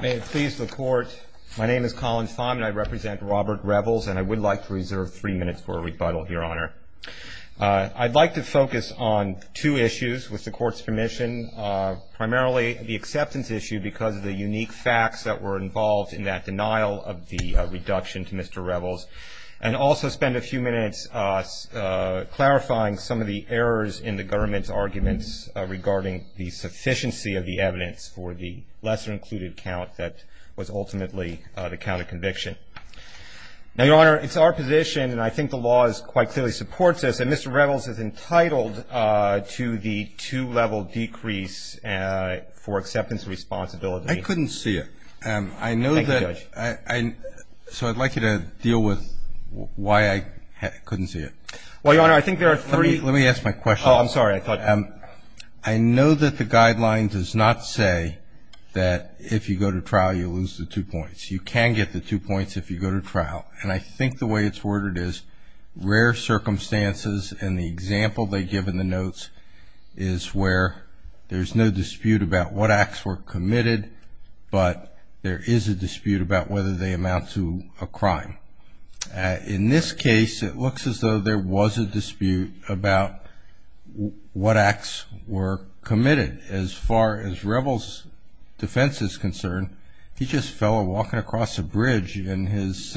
May it please the Court, my name is Colin Fahm and I represent Robert Revels and I would like to reserve three minutes for a rebuttal, Your Honor. I'd like to focus on two issues with the Court's permission, primarily the acceptance issue because of the unique facts that were involved in that denial of the reduction to Mr. Revels. And also spend a few minutes clarifying some of the errors in the government's arguments regarding the sufficiency of the evidence for the lesser included count that was ultimately the count of conviction. Now, Your Honor, it's our position, and I think the law quite clearly supports this, that Mr. Revels is entitled to the two-level decrease for acceptance of responsibility. I couldn't see it. I know that... Thank you, Judge. So I'd like you to deal with why I couldn't see it. Well, Your Honor, I think there are three... Let me ask my question. Oh, I'm sorry. I know that the guideline does not say that if you go to trial you lose the two points. You can get the two points if you go to trial. And I think the way it's worded is rare circumstances, and the example they give in the notes is where there's no dispute about what acts were committed, but there is a dispute about whether they amount to a crime. In this case, it looks as though there was a dispute about what acts were committed. As far as Revels' defense is concerned, he's just a fellow walking across a bridge in his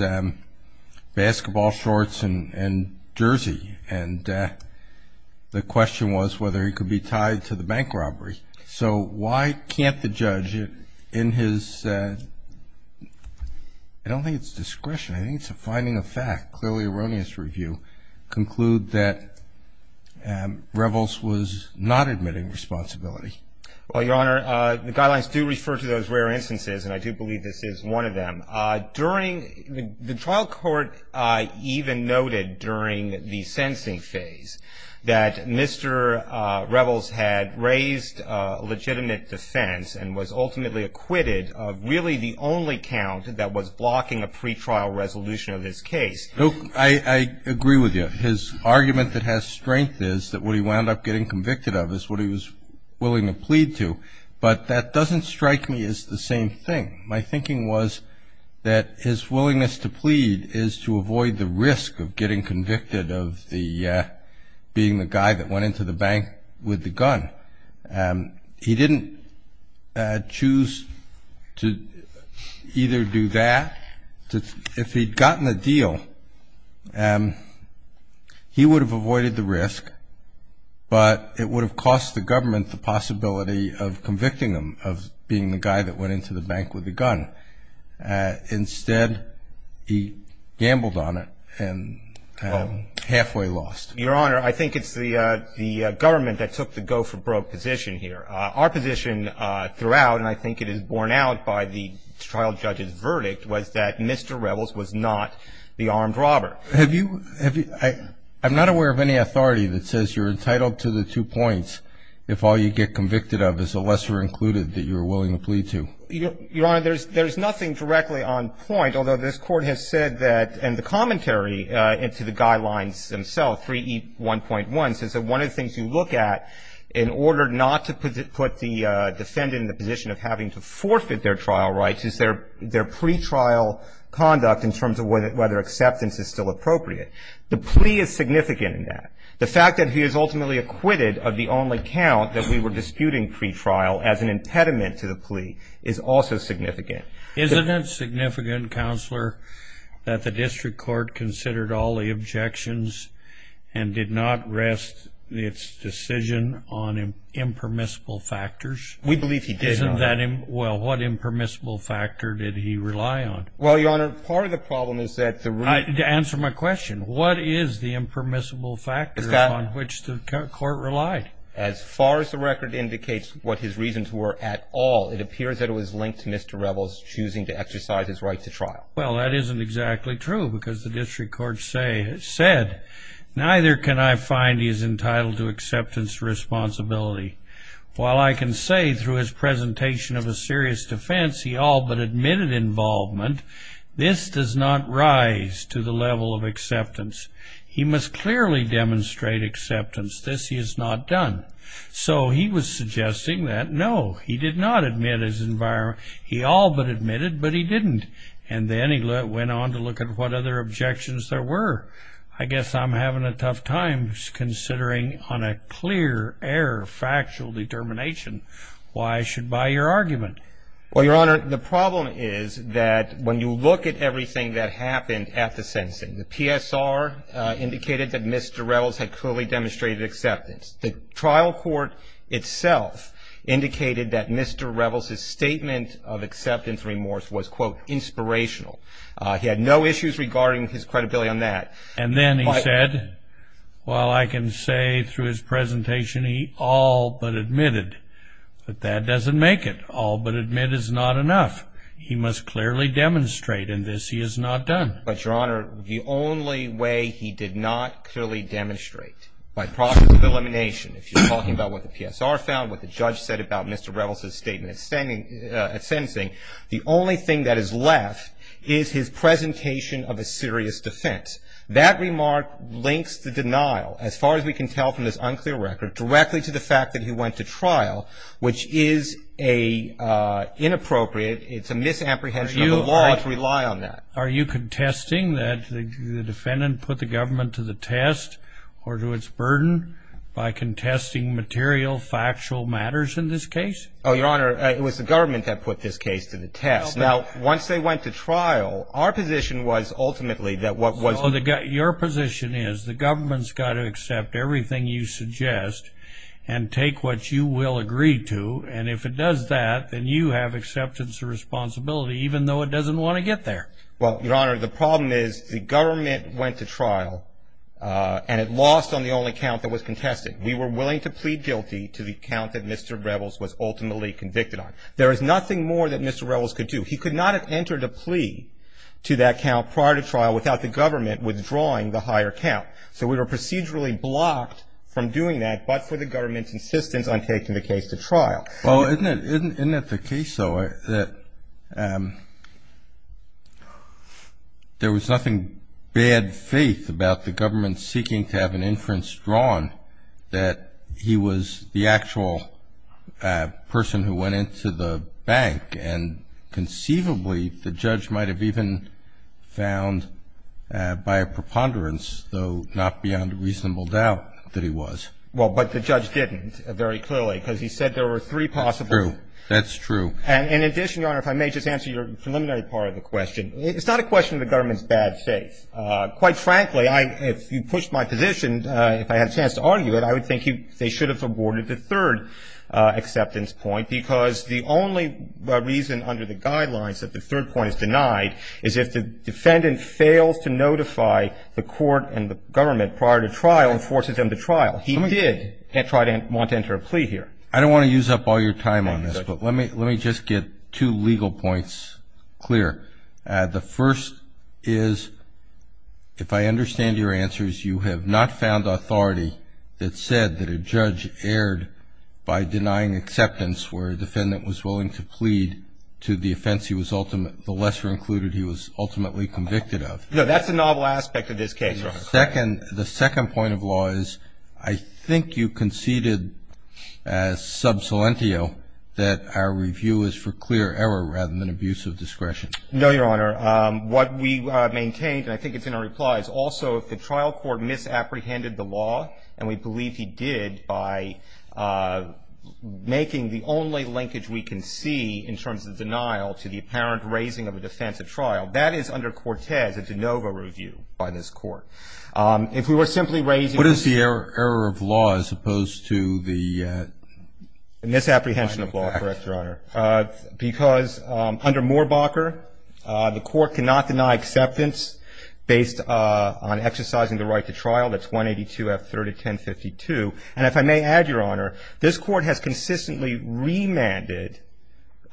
basketball shorts and jersey, and the question was whether he could be tied to the bank robbery. So why can't the judge in his... I don't think it's discretion, I think it's a finding of fact, clearly erroneous review, to conclude that Revels was not admitting responsibility. Well, Your Honor, the guidelines do refer to those rare instances, and I do believe this is one of them. During the trial court even noted during the sensing phase that Mr. Revels had raised a legitimate defense and was ultimately acquitted of really the only count that was blocking a pretrial resolution of his case. No, I agree with you. His argument that has strength is that what he wound up getting convicted of is what he was willing to plead to, but that doesn't strike me as the same thing. My thinking was that his willingness to plead is to avoid the risk of getting convicted of being the guy that went into the bank with the gun. He didn't choose to either do that. If he'd gotten the deal, he would have avoided the risk, but it would have cost the government the possibility of convicting him of being the guy that went into the bank with the gun. Instead, he gambled on it and halfway lost. Your Honor, I think it's the government that took the go-for-broke position here. Our position throughout, and I think it is borne out by the trial judge's verdict, was that Mr. Revels was not the armed robber. I'm not aware of any authority that says you're entitled to the two points if all you get convicted of is the lesser included that you're willing to plead to. Your Honor, there's nothing directly on point, although this Court has said that and the commentary into the guidelines themselves, 3E1.1, says that one of the things you look at in order not to put the defendant in the position of having to forfeit their trial rights is their pretrial conduct in terms of whether acceptance is still appropriate. The plea is significant in that. The fact that he is ultimately acquitted of the only count that we were disputing pretrial as an impediment to the plea is also significant. Isn't it significant, Counselor, that the District Court considered all the objections and did not rest its decision on impermissible factors? We believe he did, Your Honor. Well, what impermissible factor did he rely on? Well, Your Honor, part of the problem is that the reason... To answer my question, what is the impermissible factor on which the Court relied? As far as the record indicates what his reasons were at all, it appears that it was linked to Mr. Revels choosing to exercise his right to trial. Well, that isn't exactly true because the District Court said, neither can I find he is entitled to acceptance of responsibility. While I can say through his presentation of a serious defense he all but admitted involvement, this does not rise to the level of acceptance. He must clearly demonstrate acceptance. This he has not done. So he was suggesting that, no, he did not admit his involvement. He all but admitted, but he didn't. And then he went on to look at what other objections there were. I guess I'm having a tough time considering on a clear air factual determination why I should buy your argument. Well, Your Honor, the problem is that when you look at everything that happened at the sentencing, the PSR indicated that Mr. Revels had clearly demonstrated acceptance. The trial court itself indicated that Mr. Revels' statement of acceptance remorse was, quote, inspirational. He had no issues regarding his credibility on that. And then he said, while I can say through his presentation he all but admitted, but that doesn't make it. All but admit is not enough. He must clearly demonstrate, and this he has not done. But, Your Honor, the only way he did not clearly demonstrate, by process of elimination, if you're talking about what the PSR found, what the judge said about Mr. Revels' statement at sentencing, the only thing that is left is his presentation of a serious defense. That remark links the denial, as far as we can tell from this unclear record, directly to the fact that he went to trial, which is inappropriate. It's a misapprehension of the law to rely on that. Are you contesting that the defendant put the government to the test or to its burden by contesting material, factual matters in this case? Oh, Your Honor, it was the government that put this case to the test. Now, once they went to trial, our position was ultimately that what was... So your position is the government's got to accept everything you suggest and take what you will agree to, and if it does that, then you have acceptance of responsibility, even though it doesn't want to get there. Well, Your Honor, the problem is the government went to trial and it lost on the only count that was contested. We were willing to plead guilty to the count that Mr. Revels was ultimately convicted on. There is nothing more that Mr. Revels could do. He could not have entered a plea to that count prior to trial without the government withdrawing the higher count. So we were procedurally blocked from doing that but for the government's insistence on taking the case to trial. Well, isn't it the case, though, that there was nothing bad faith about the government seeking to have an inference drawn that he was the actual person who went into the bank, and conceivably the judge might have even found by a preponderance, though not beyond reasonable doubt, that he was? Well, but the judge didn't, very clearly, because he said there were three possible... That's true. That's true. And in addition, Your Honor, if I may just answer your preliminary part of the question, it's not a question of the government's bad faith. Quite frankly, if you pushed my position, if I had a chance to argue it, I would think they should have aborted the third acceptance point, because the only reason under the guidelines that the third point is denied is if the defendant fails to notify the court and the government prior to trial and forces them to trial. He did try to want to enter a plea here. I don't want to use up all your time on this, but let me just get two legal points clear. The first is, if I understand your answers, you have not found authority that said that a judge erred by denying acceptance where a defendant was willing to plead to the offense the lesser included he was ultimately convicted of. No, that's a novel aspect of this case, Your Honor. The second point of law is I think you conceded as sub salientio that our review is for clear error rather than abuse of discretion. No, Your Honor. What we maintained, and I think it's in our reply, is also if the trial court misapprehended the law, and we believe he did by making the only linkage we can see in terms of denial to the apparent raising of a defense at trial, that is under Cortez, a de novo review by this court. If we were simply raising the... What is the error of law as opposed to the... Misapprehension of law, correct, Your Honor. Because under Moorbacher, the court cannot deny acceptance based on exercising the right to trial. That's 182 F. 301052. And if I may add, Your Honor, this court has consistently remanded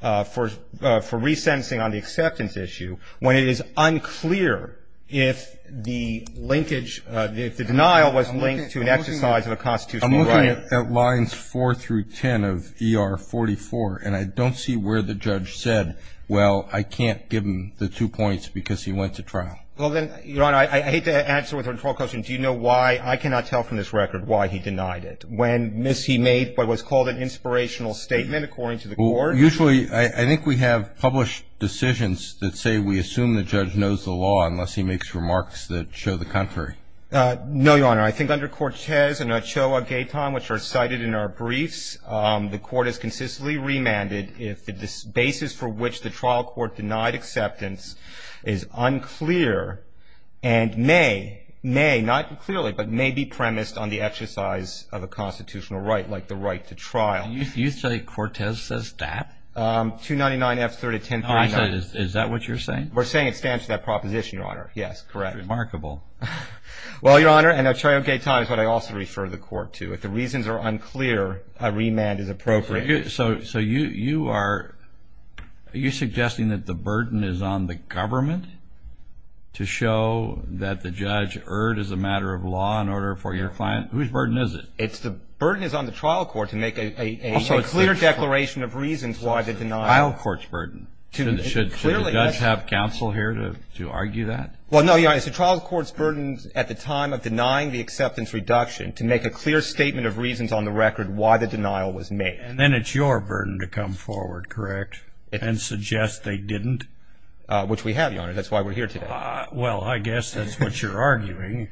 for resentencing on the acceptance issue when it is unclear if the linkage, if the denial was linked to an exercise of a constitutional right. It lines 4 through 10 of ER44, and I don't see where the judge said, well, I can't give him the two points because he went to trial. Well, then, Your Honor, I hate to answer with a control question. Do you know why I cannot tell from this record why he denied it? When, Miss, he made what was called an inspirational statement, according to the court. Usually, I think we have published decisions that say we assume the judge knows the law unless he makes remarks that show the contrary. No, Your Honor. I think under Cortez and Ochoa-Gayton, which are cited in our briefs, the court has consistently remanded if the basis for which the trial court denied acceptance is unclear and may, may, not clearly, but may be premised on the exercise of a constitutional right, like the right to trial. You say Cortez says that? 299 F. 301039. Is that what you're saying? We're saying it stands to that proposition, Your Honor. Yes, correct. Remarkable. Well, Your Honor, and Ochoa-Gayton is what I also refer the court to. If the reasons are unclear, a remand is appropriate. So you are suggesting that the burden is on the government to show that the judge erred as a matter of law in order for your client? Whose burden is it? It's the burden is on the trial court to make a clear declaration of reasons why the denial. It's the trial court's burden. Should the judge have counsel here to argue that? Well, no, Your Honor, it's the trial court's burden at the time of denying the acceptance reduction to make a clear statement of reasons on the record why the denial was made. And then it's your burden to come forward, correct, and suggest they didn't? Which we have, Your Honor. That's why we're here today. Well, I guess that's what you're arguing.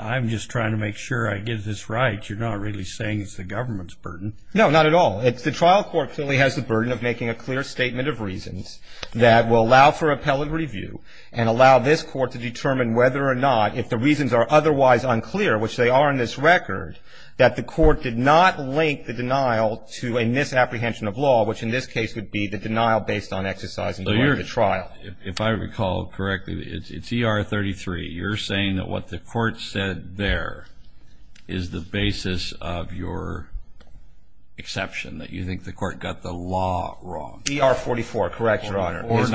I'm just trying to make sure I get this right. You're not really saying it's the government's burden. No, not at all. The trial court clearly has the burden of making a clear statement of reasons that will allow for appellate review and allow this court to determine whether or not, if the reasons are otherwise unclear, which they are in this record, that the court did not link the denial to a misapprehension of law, which in this case would be the denial based on exercising the right of the trial. If I recall correctly, it's ER-33. You're saying that what the court said there is the basis of your exception, that you think the court got the law wrong. ER-44, correct, Your Honor. Is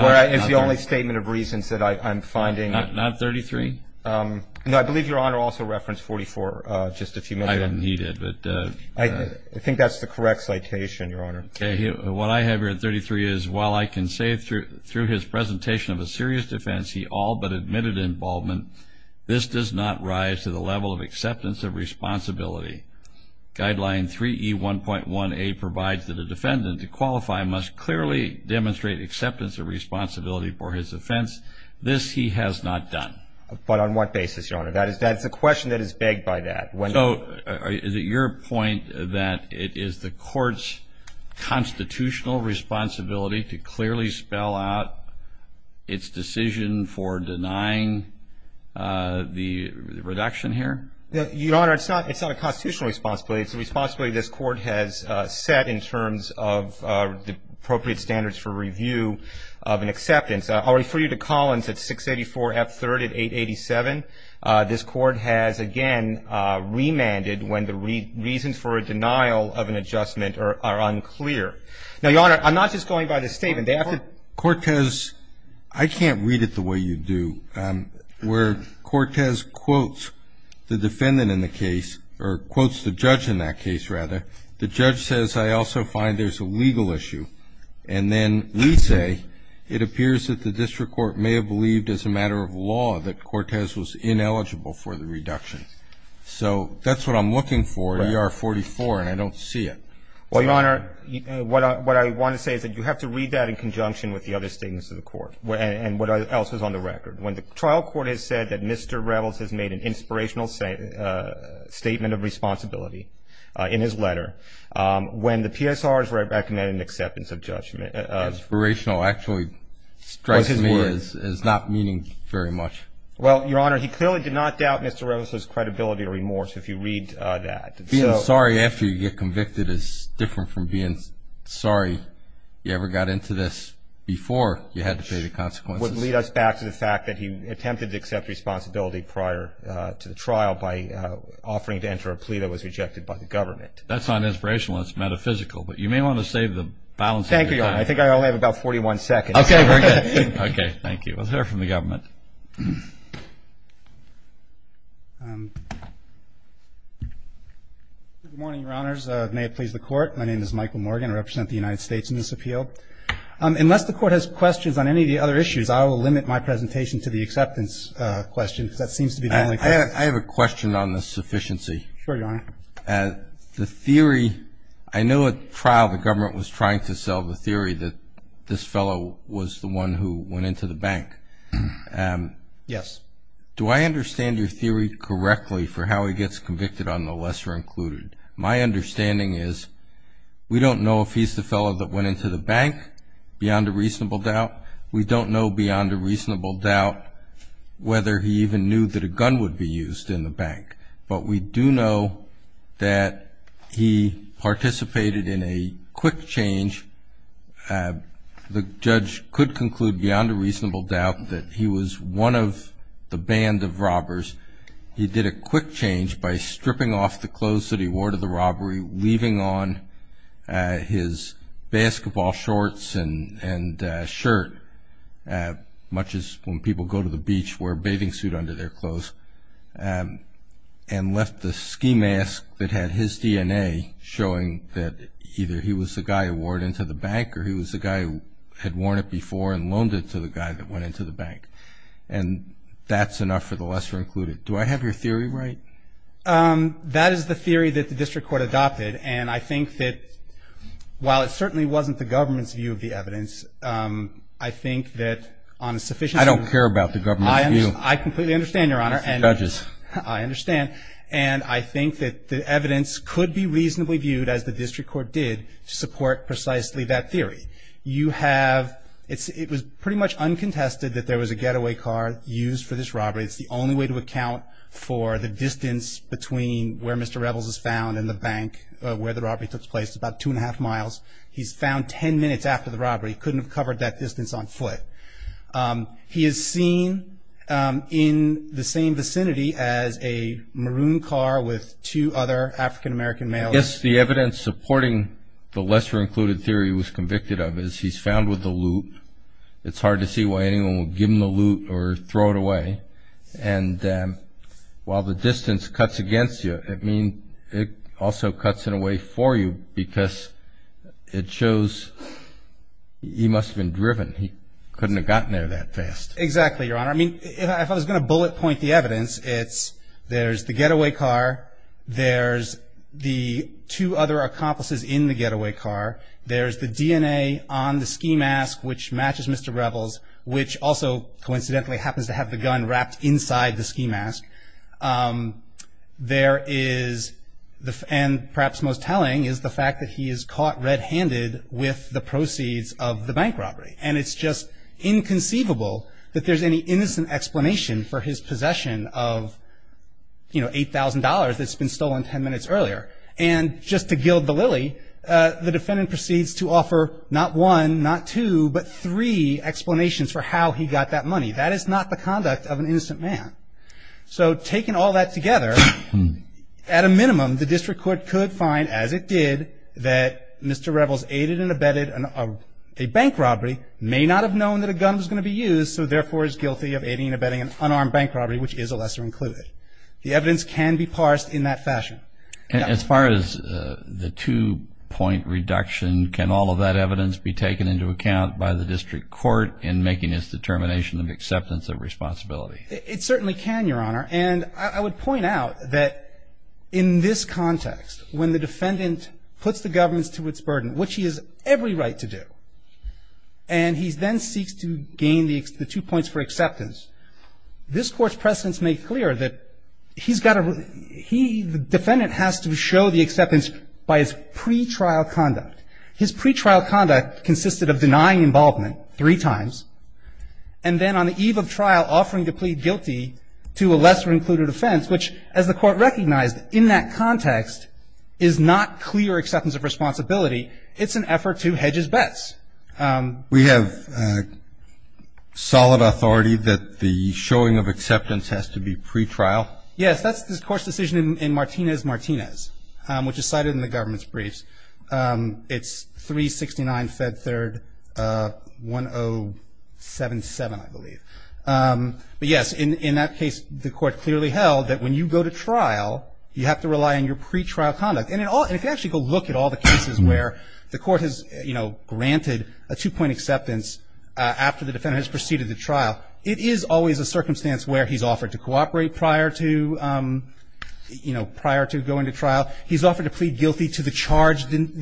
the only statement of reasons that I'm finding. Not 33? No, I believe Your Honor also referenced 44 just a few minutes ago. I don't think he did. I think that's the correct citation, Your Honor. What I have here at 33 is, while I can say through his presentation of a serious defense he all but admitted involvement, this does not rise to the level of acceptance of responsibility. Guideline 3E1.1A provides that a defendant to qualify must clearly demonstrate acceptance of responsibility for his offense. This he has not done. But on what basis, Your Honor? That is a question that is begged by that. So is it your point that it is the court's constitutional responsibility to clearly spell out its decision for denying the reduction here? Your Honor, it's not a constitutional responsibility. It's a responsibility this Court has set in terms of the appropriate standards for review of an acceptance. I'll refer you to Collins at 684 F3rd at 887. This Court has, again, remanded when the reasons for a denial of an adjustment are unclear. Now, Your Honor, I'm not just going by this statement. I can't read it the way you do, where Cortez quotes the defendant in the case, or quotes the judge in that case, rather. The judge says, I also find there's a legal issue. And then we say it appears that the district court may have believed as a matter of law that Cortez was ineligible for the reduction. So that's what I'm looking for, ER44, and I don't see it. Well, Your Honor, what I want to say is that you have to read that in conjunction with the other statements of the Court and what else is on the record. When the trial court has said that Mr. Revels has made an inspirational statement of responsibility in his letter, when the PSR has recommended an acceptance of judgment. Inspirational actually strikes me as not meaning very much. Well, Your Honor, he clearly did not doubt Mr. Revels' credibility or remorse, if you read that. Being sorry after you get convicted is different from being sorry you ever got into this before you had to pay the consequences. Which would lead us back to the fact that he attempted to accept responsibility prior to the trial by offering to enter a plea that was rejected by the government. That's not inspirational. It's metaphysical. But you may want to save the balance of your time. Thank you, Your Honor. I think I only have about 41 seconds. Okay, very good. Okay, thank you. We'll hear from the government. Good morning, Your Honors. May it please the Court. My name is Michael Morgan. I represent the United States in this appeal. Unless the Court has questions on any of the other issues, I will limit my presentation to the acceptance question, because that seems to be the only question. I have a question on the sufficiency. Sure, Your Honor. The theory, I know at trial the government was trying to sell the theory that this fellow was the one who went into the bank. Yes. Do I understand your theory correctly for how he gets convicted on the lesser included? My understanding is we don't know if he's the fellow that went into the bank, beyond a reasonable doubt. We don't know beyond a reasonable doubt whether he even knew that a gun would be used in the bank. But we do know that he participated in a quick change. The judge could conclude beyond a reasonable doubt that he was one of the band of robbers. He did a quick change by stripping off the clothes that he wore to the robbery, leaving on his basketball shorts and shirt, much as when people go to the beach, wear a bathing suit under their clothes, and left the ski mask that had his DNA, showing that either he was the guy who wore it into the bank, or he was the guy who had worn it before and loaned it to the guy that went into the bank. And that's enough for the lesser included. Do I have your theory right? That is the theory that the district court adopted. And I think that while it certainly wasn't the government's view of the evidence, I think that on a sufficient level. I don't care about the government's view. I completely understand, Your Honor. It's the judge's. I understand. And I think that the evidence could be reasonably viewed, as the district court did, to support precisely that theory. You have – it was pretty much uncontested that there was a getaway car used for this robbery. It's the only way to account for the distance between where Mr. Rebels is found and the bank where the robbery took place, about two and a half miles. He's found ten minutes after the robbery. He couldn't have covered that distance on foot. He is seen in the same vicinity as a maroon car with two other African American males. I guess the evidence supporting the lesser included theory he was convicted of is he's found with the loot. It's hard to see why anyone would give him the loot or throw it away. And while the distance cuts against you, it means it also cuts in a way for you because it shows he must have been driven. He couldn't have gotten there that fast. Exactly, Your Honor. I mean, if I was going to bullet point the evidence, it's there's the getaway car, there's the two other accomplices in the getaway car, there's the DNA on the ski mask which matches Mr. Rebels, which also coincidentally happens to have the gun wrapped inside the ski mask. There is, and perhaps most telling, is the fact that he is caught red-handed with the proceeds of the bank robbery. And it's just inconceivable that there's any innocent explanation for his possession of, you know, $8,000 that's been stolen ten minutes earlier. And just to gild the lily, the defendant proceeds to offer not one, not two, but three explanations for how he got that money. That is not the conduct of an innocent man. So taking all that together, at a minimum, the district court could find, as it did, that Mr. Rebels aided and abetted a bank robbery, may not have known that a gun was going to be used, so therefore is guilty of aiding and abetting an unarmed bank robbery, which is a lesser included. The evidence can be parsed in that fashion. As far as the two-point reduction, can all of that evidence be taken into account by the district court in making its determination of acceptance of responsibility? It certainly can, Your Honor. And I would point out that in this context, when the defendant puts the government to its burden, which he has every right to do, and he then seeks to gain the two points for acceptance, this Court's precedents make clear that he's got to – he, the defendant, has to show the acceptance by his pretrial conduct. His pretrial conduct consisted of denying involvement three times, and then on the eve of trial, offering to plead guilty to a lesser included offense, which, as the Court recognized, in that context is not clear acceptance of responsibility. It's an effort to hedge his bets. We have solid authority that the showing of acceptance has to be pretrial? Yes. That's the Court's decision in Martinez-Martinez, which is cited in the government's briefs. It's 369 Fed Third 1077, I believe. But, yes, in that case, the Court clearly held that when you go to trial, you have to rely on your pretrial conduct. And if you actually go look at all the cases where the Court has, you know, granted a two-point acceptance after the defendant has proceeded to trial, it is always a circumstance where he's offered to cooperate prior to, you know, prior to going to trial. He's offered to plead guilty to the charge in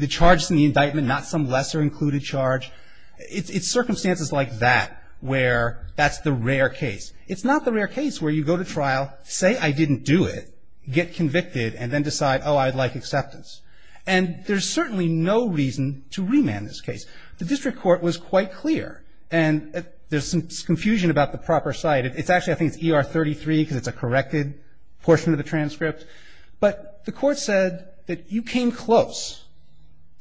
the indictment, not some lesser included charge. It's circumstances like that where that's the rare case. It's not the rare case where you go to trial, say, I didn't do it, get convicted, and then decide, oh, I'd like acceptance. And there's certainly no reason to remand this case. The district court was quite clear. And there's some confusion about the proper cite. It's actually, I think, it's ER 33 because it's a corrected portion of the transcript. But the Court said that you came close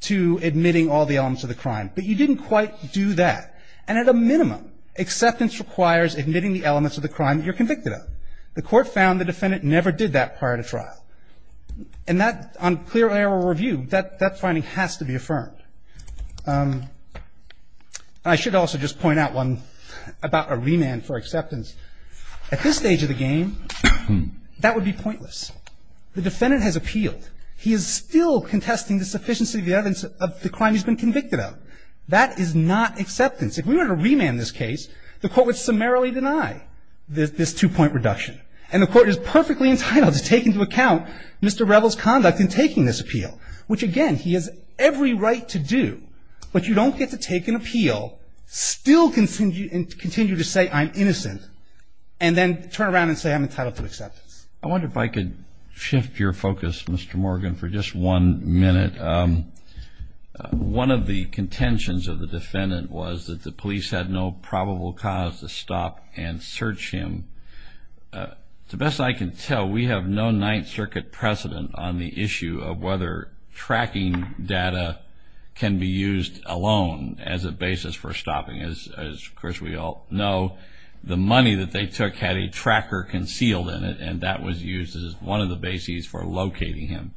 to admitting all the elements of the crime, but you didn't quite do that. And at a minimum, acceptance requires admitting the elements of the crime you're convicted of. The Court found the defendant never did that prior to trial. And that, on clear error review, that finding has to be affirmed. I should also just point out one about a remand for acceptance. At this stage of the game, that would be pointless. The defendant has appealed. He is still contesting the sufficiency of the evidence of the crime he's been convicted of. That is not acceptance. If we were to remand this case, the Court would summarily deny this two-point reduction. And the Court is perfectly entitled to take into account Mr. Revell's conduct in taking this appeal, which, again, he has every right to do. But you don't get to take an appeal, still continue to say I'm innocent, and then turn around and say I'm entitled to acceptance. I wonder if I could shift your focus, Mr. Morgan, for just one minute. One of the contentions of the defendant was that the police had no probable cause to stop and search him. The best I can tell, we have no Ninth Circuit precedent on the issue of whether tracking data can be used alone as a basis for stopping. As, of course, we all know, the money that they took had a tracker concealed in it, and that was used as one of the bases for locating him.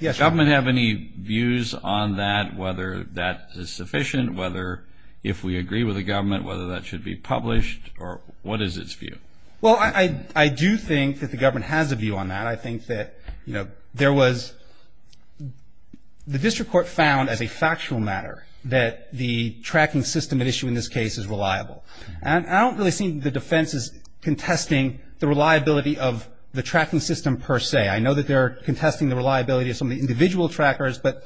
Does the government have any views on that, whether that is sufficient, whether if we agree with the government, whether that should be published, or what is its view? Well, I do think that the government has a view on that. I think that, you know, there was the District Court found as a factual matter that the tracking system at issue in this case is reliable. And I don't really see the defense as contesting the reliability of the tracking system per se. I know that they're contesting the reliability of some of the individual trackers, but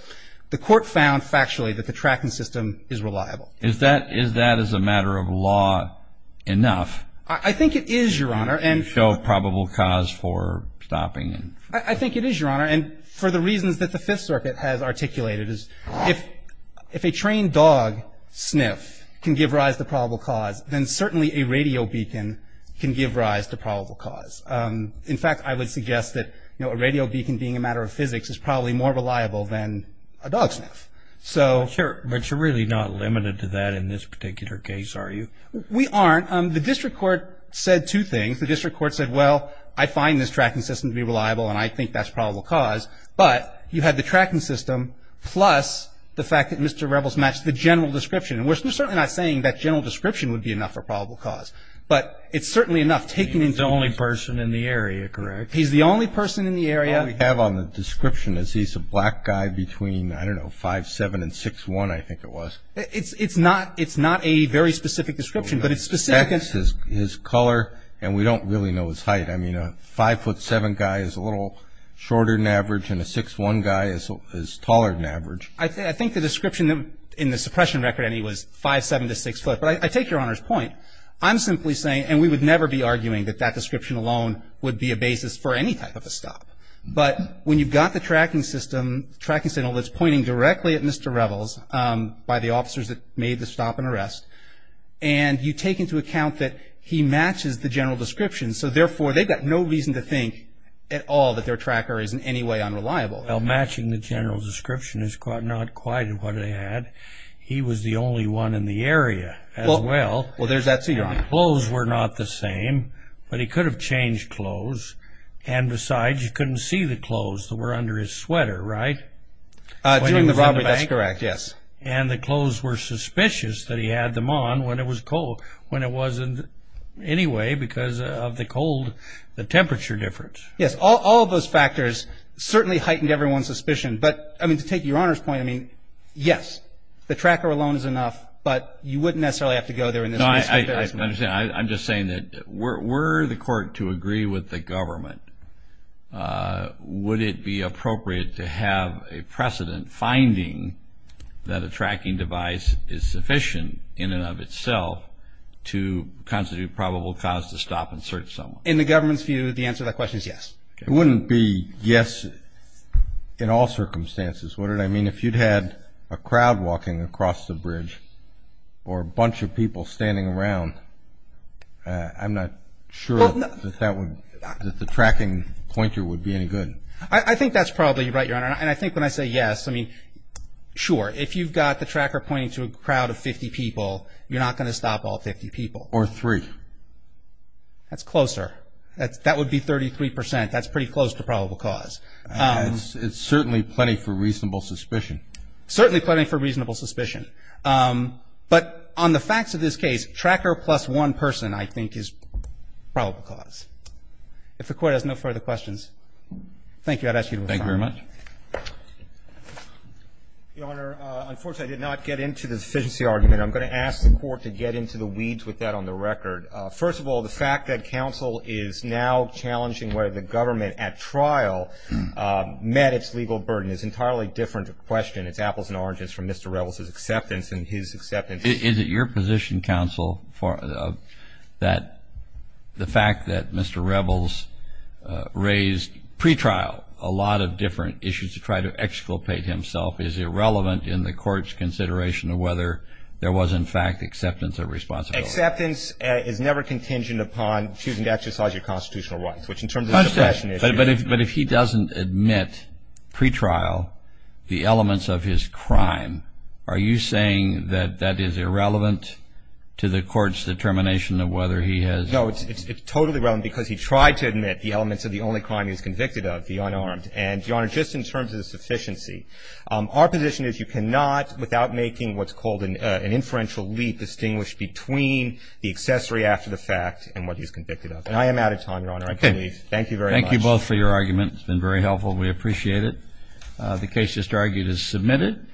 the court found factually that the tracking system is reliable. Is that as a matter of law enough? I think it is, Your Honor. No probable cause for stopping? I think it is, Your Honor. And for the reasons that the Fifth Circuit has articulated, if a trained dog, Sniff, can give rise to probable cause, then certainly a radio beacon can give rise to probable cause. In fact, I would suggest that, you know, a radio beacon being a matter of physics is probably more reliable than a dog sniff. Sure, but you're really not limited to that in this particular case, are you? We aren't. The District Court said two things. The District Court said, well, I find this tracking system to be reliable, and I think that's probable cause. But you had the tracking system plus the fact that Mr. Rebels matched the general description. And we're certainly not saying that general description would be enough for probable cause. But it's certainly enough taken into account. He's the only person in the area, correct? He's the only person in the area. All we have on the description is he's a black guy between, I don't know, 5'7 and 6'1, I think it was. It's not a very specific description, but it's specific. His color, and we don't really know his height. I mean, a 5'7 guy is a little shorter than average, and a 6'1 guy is taller than average. I think the description in the suppression record on him was 5'7 to 6'5. But I take Your Honor's point. I'm simply saying, and we would never be arguing that that description alone would be a basis for any type of a stop. But when you've got the tracking system, tracking signal that's pointing directly at Mr. Rebels by the officers that made the stop and arrest, and you take into account that he matches the general description, so therefore they've got no reason to think at all that their tracker is in any way unreliable. Well, matching the general description is not quite what they had. He was the only one in the area as well. Well, there's that too, Your Honor. Clothes were not the same, but he could have changed clothes. And besides, you couldn't see the clothes that were under his sweater, right? During the robbery, that's correct, yes. And the clothes were suspicious that he had them on when it was cold, when it wasn't anyway because of the cold, the temperature difference. Yes, all of those factors certainly heightened everyone's suspicion. But, I mean, to take Your Honor's point, I mean, yes, the tracker alone is enough, but you wouldn't necessarily have to go there in this case. No, I understand. I'm just saying that were the court to agree with the government, would it be appropriate to have a precedent finding that a tracking device is sufficient in and of itself to constitute probable cause to stop and search someone? In the government's view, the answer to that question is yes. It wouldn't be yes in all circumstances. What did I mean? If you'd had a crowd walking across the bridge or a bunch of people standing around, I'm not sure that the tracking pointer would be any good. I think that's probably right, Your Honor. And I think when I say yes, I mean, sure, if you've got the tracker pointing to a crowd of 50 people, you're not going to stop all 50 people. Or three. That's closer. That would be 33 percent. That's pretty close to probable cause. It's certainly plenty for reasonable suspicion. Certainly plenty for reasonable suspicion. But on the facts of this case, tracker plus one person, I think, is probable cause. If the Court has no further questions. Thank you. I'd ask you to withdraw. Thank you very much. Your Honor, unfortunately, I did not get into the deficiency argument. I'm going to ask the Court to get into the weeds with that on the record. First of all, the fact that counsel is now challenging whether the government at trial met its legal burden is an entirely different question. It's apples and oranges from Mr. Revels' acceptance and his acceptance. Is it your position, counsel, that the fact that Mr. Revels raised pretrial a lot of different issues to try to exculpate himself is irrelevant in the Court's consideration of whether there was, in fact, acceptance or responsibility? Acceptance is never contingent upon choosing to exercise your constitutional rights, which in terms of suppression is. But if he doesn't admit pretrial, the elements of his crime, are you saying that that is irrelevant to the Court's determination of whether he has. No, it's totally relevant because he tried to admit the elements of the only crime he was convicted of, the unarmed. And, Your Honor, just in terms of the sufficiency, our position is you cannot, without making what's called an inferential leap, distinguish between the accessory after the fact and what he's convicted of. And I am out of time, Your Honor. I'm going to leave. Thank you very much. Thank you both for your argument. It's been very helpful. We appreciate it. The case just argued is submitted.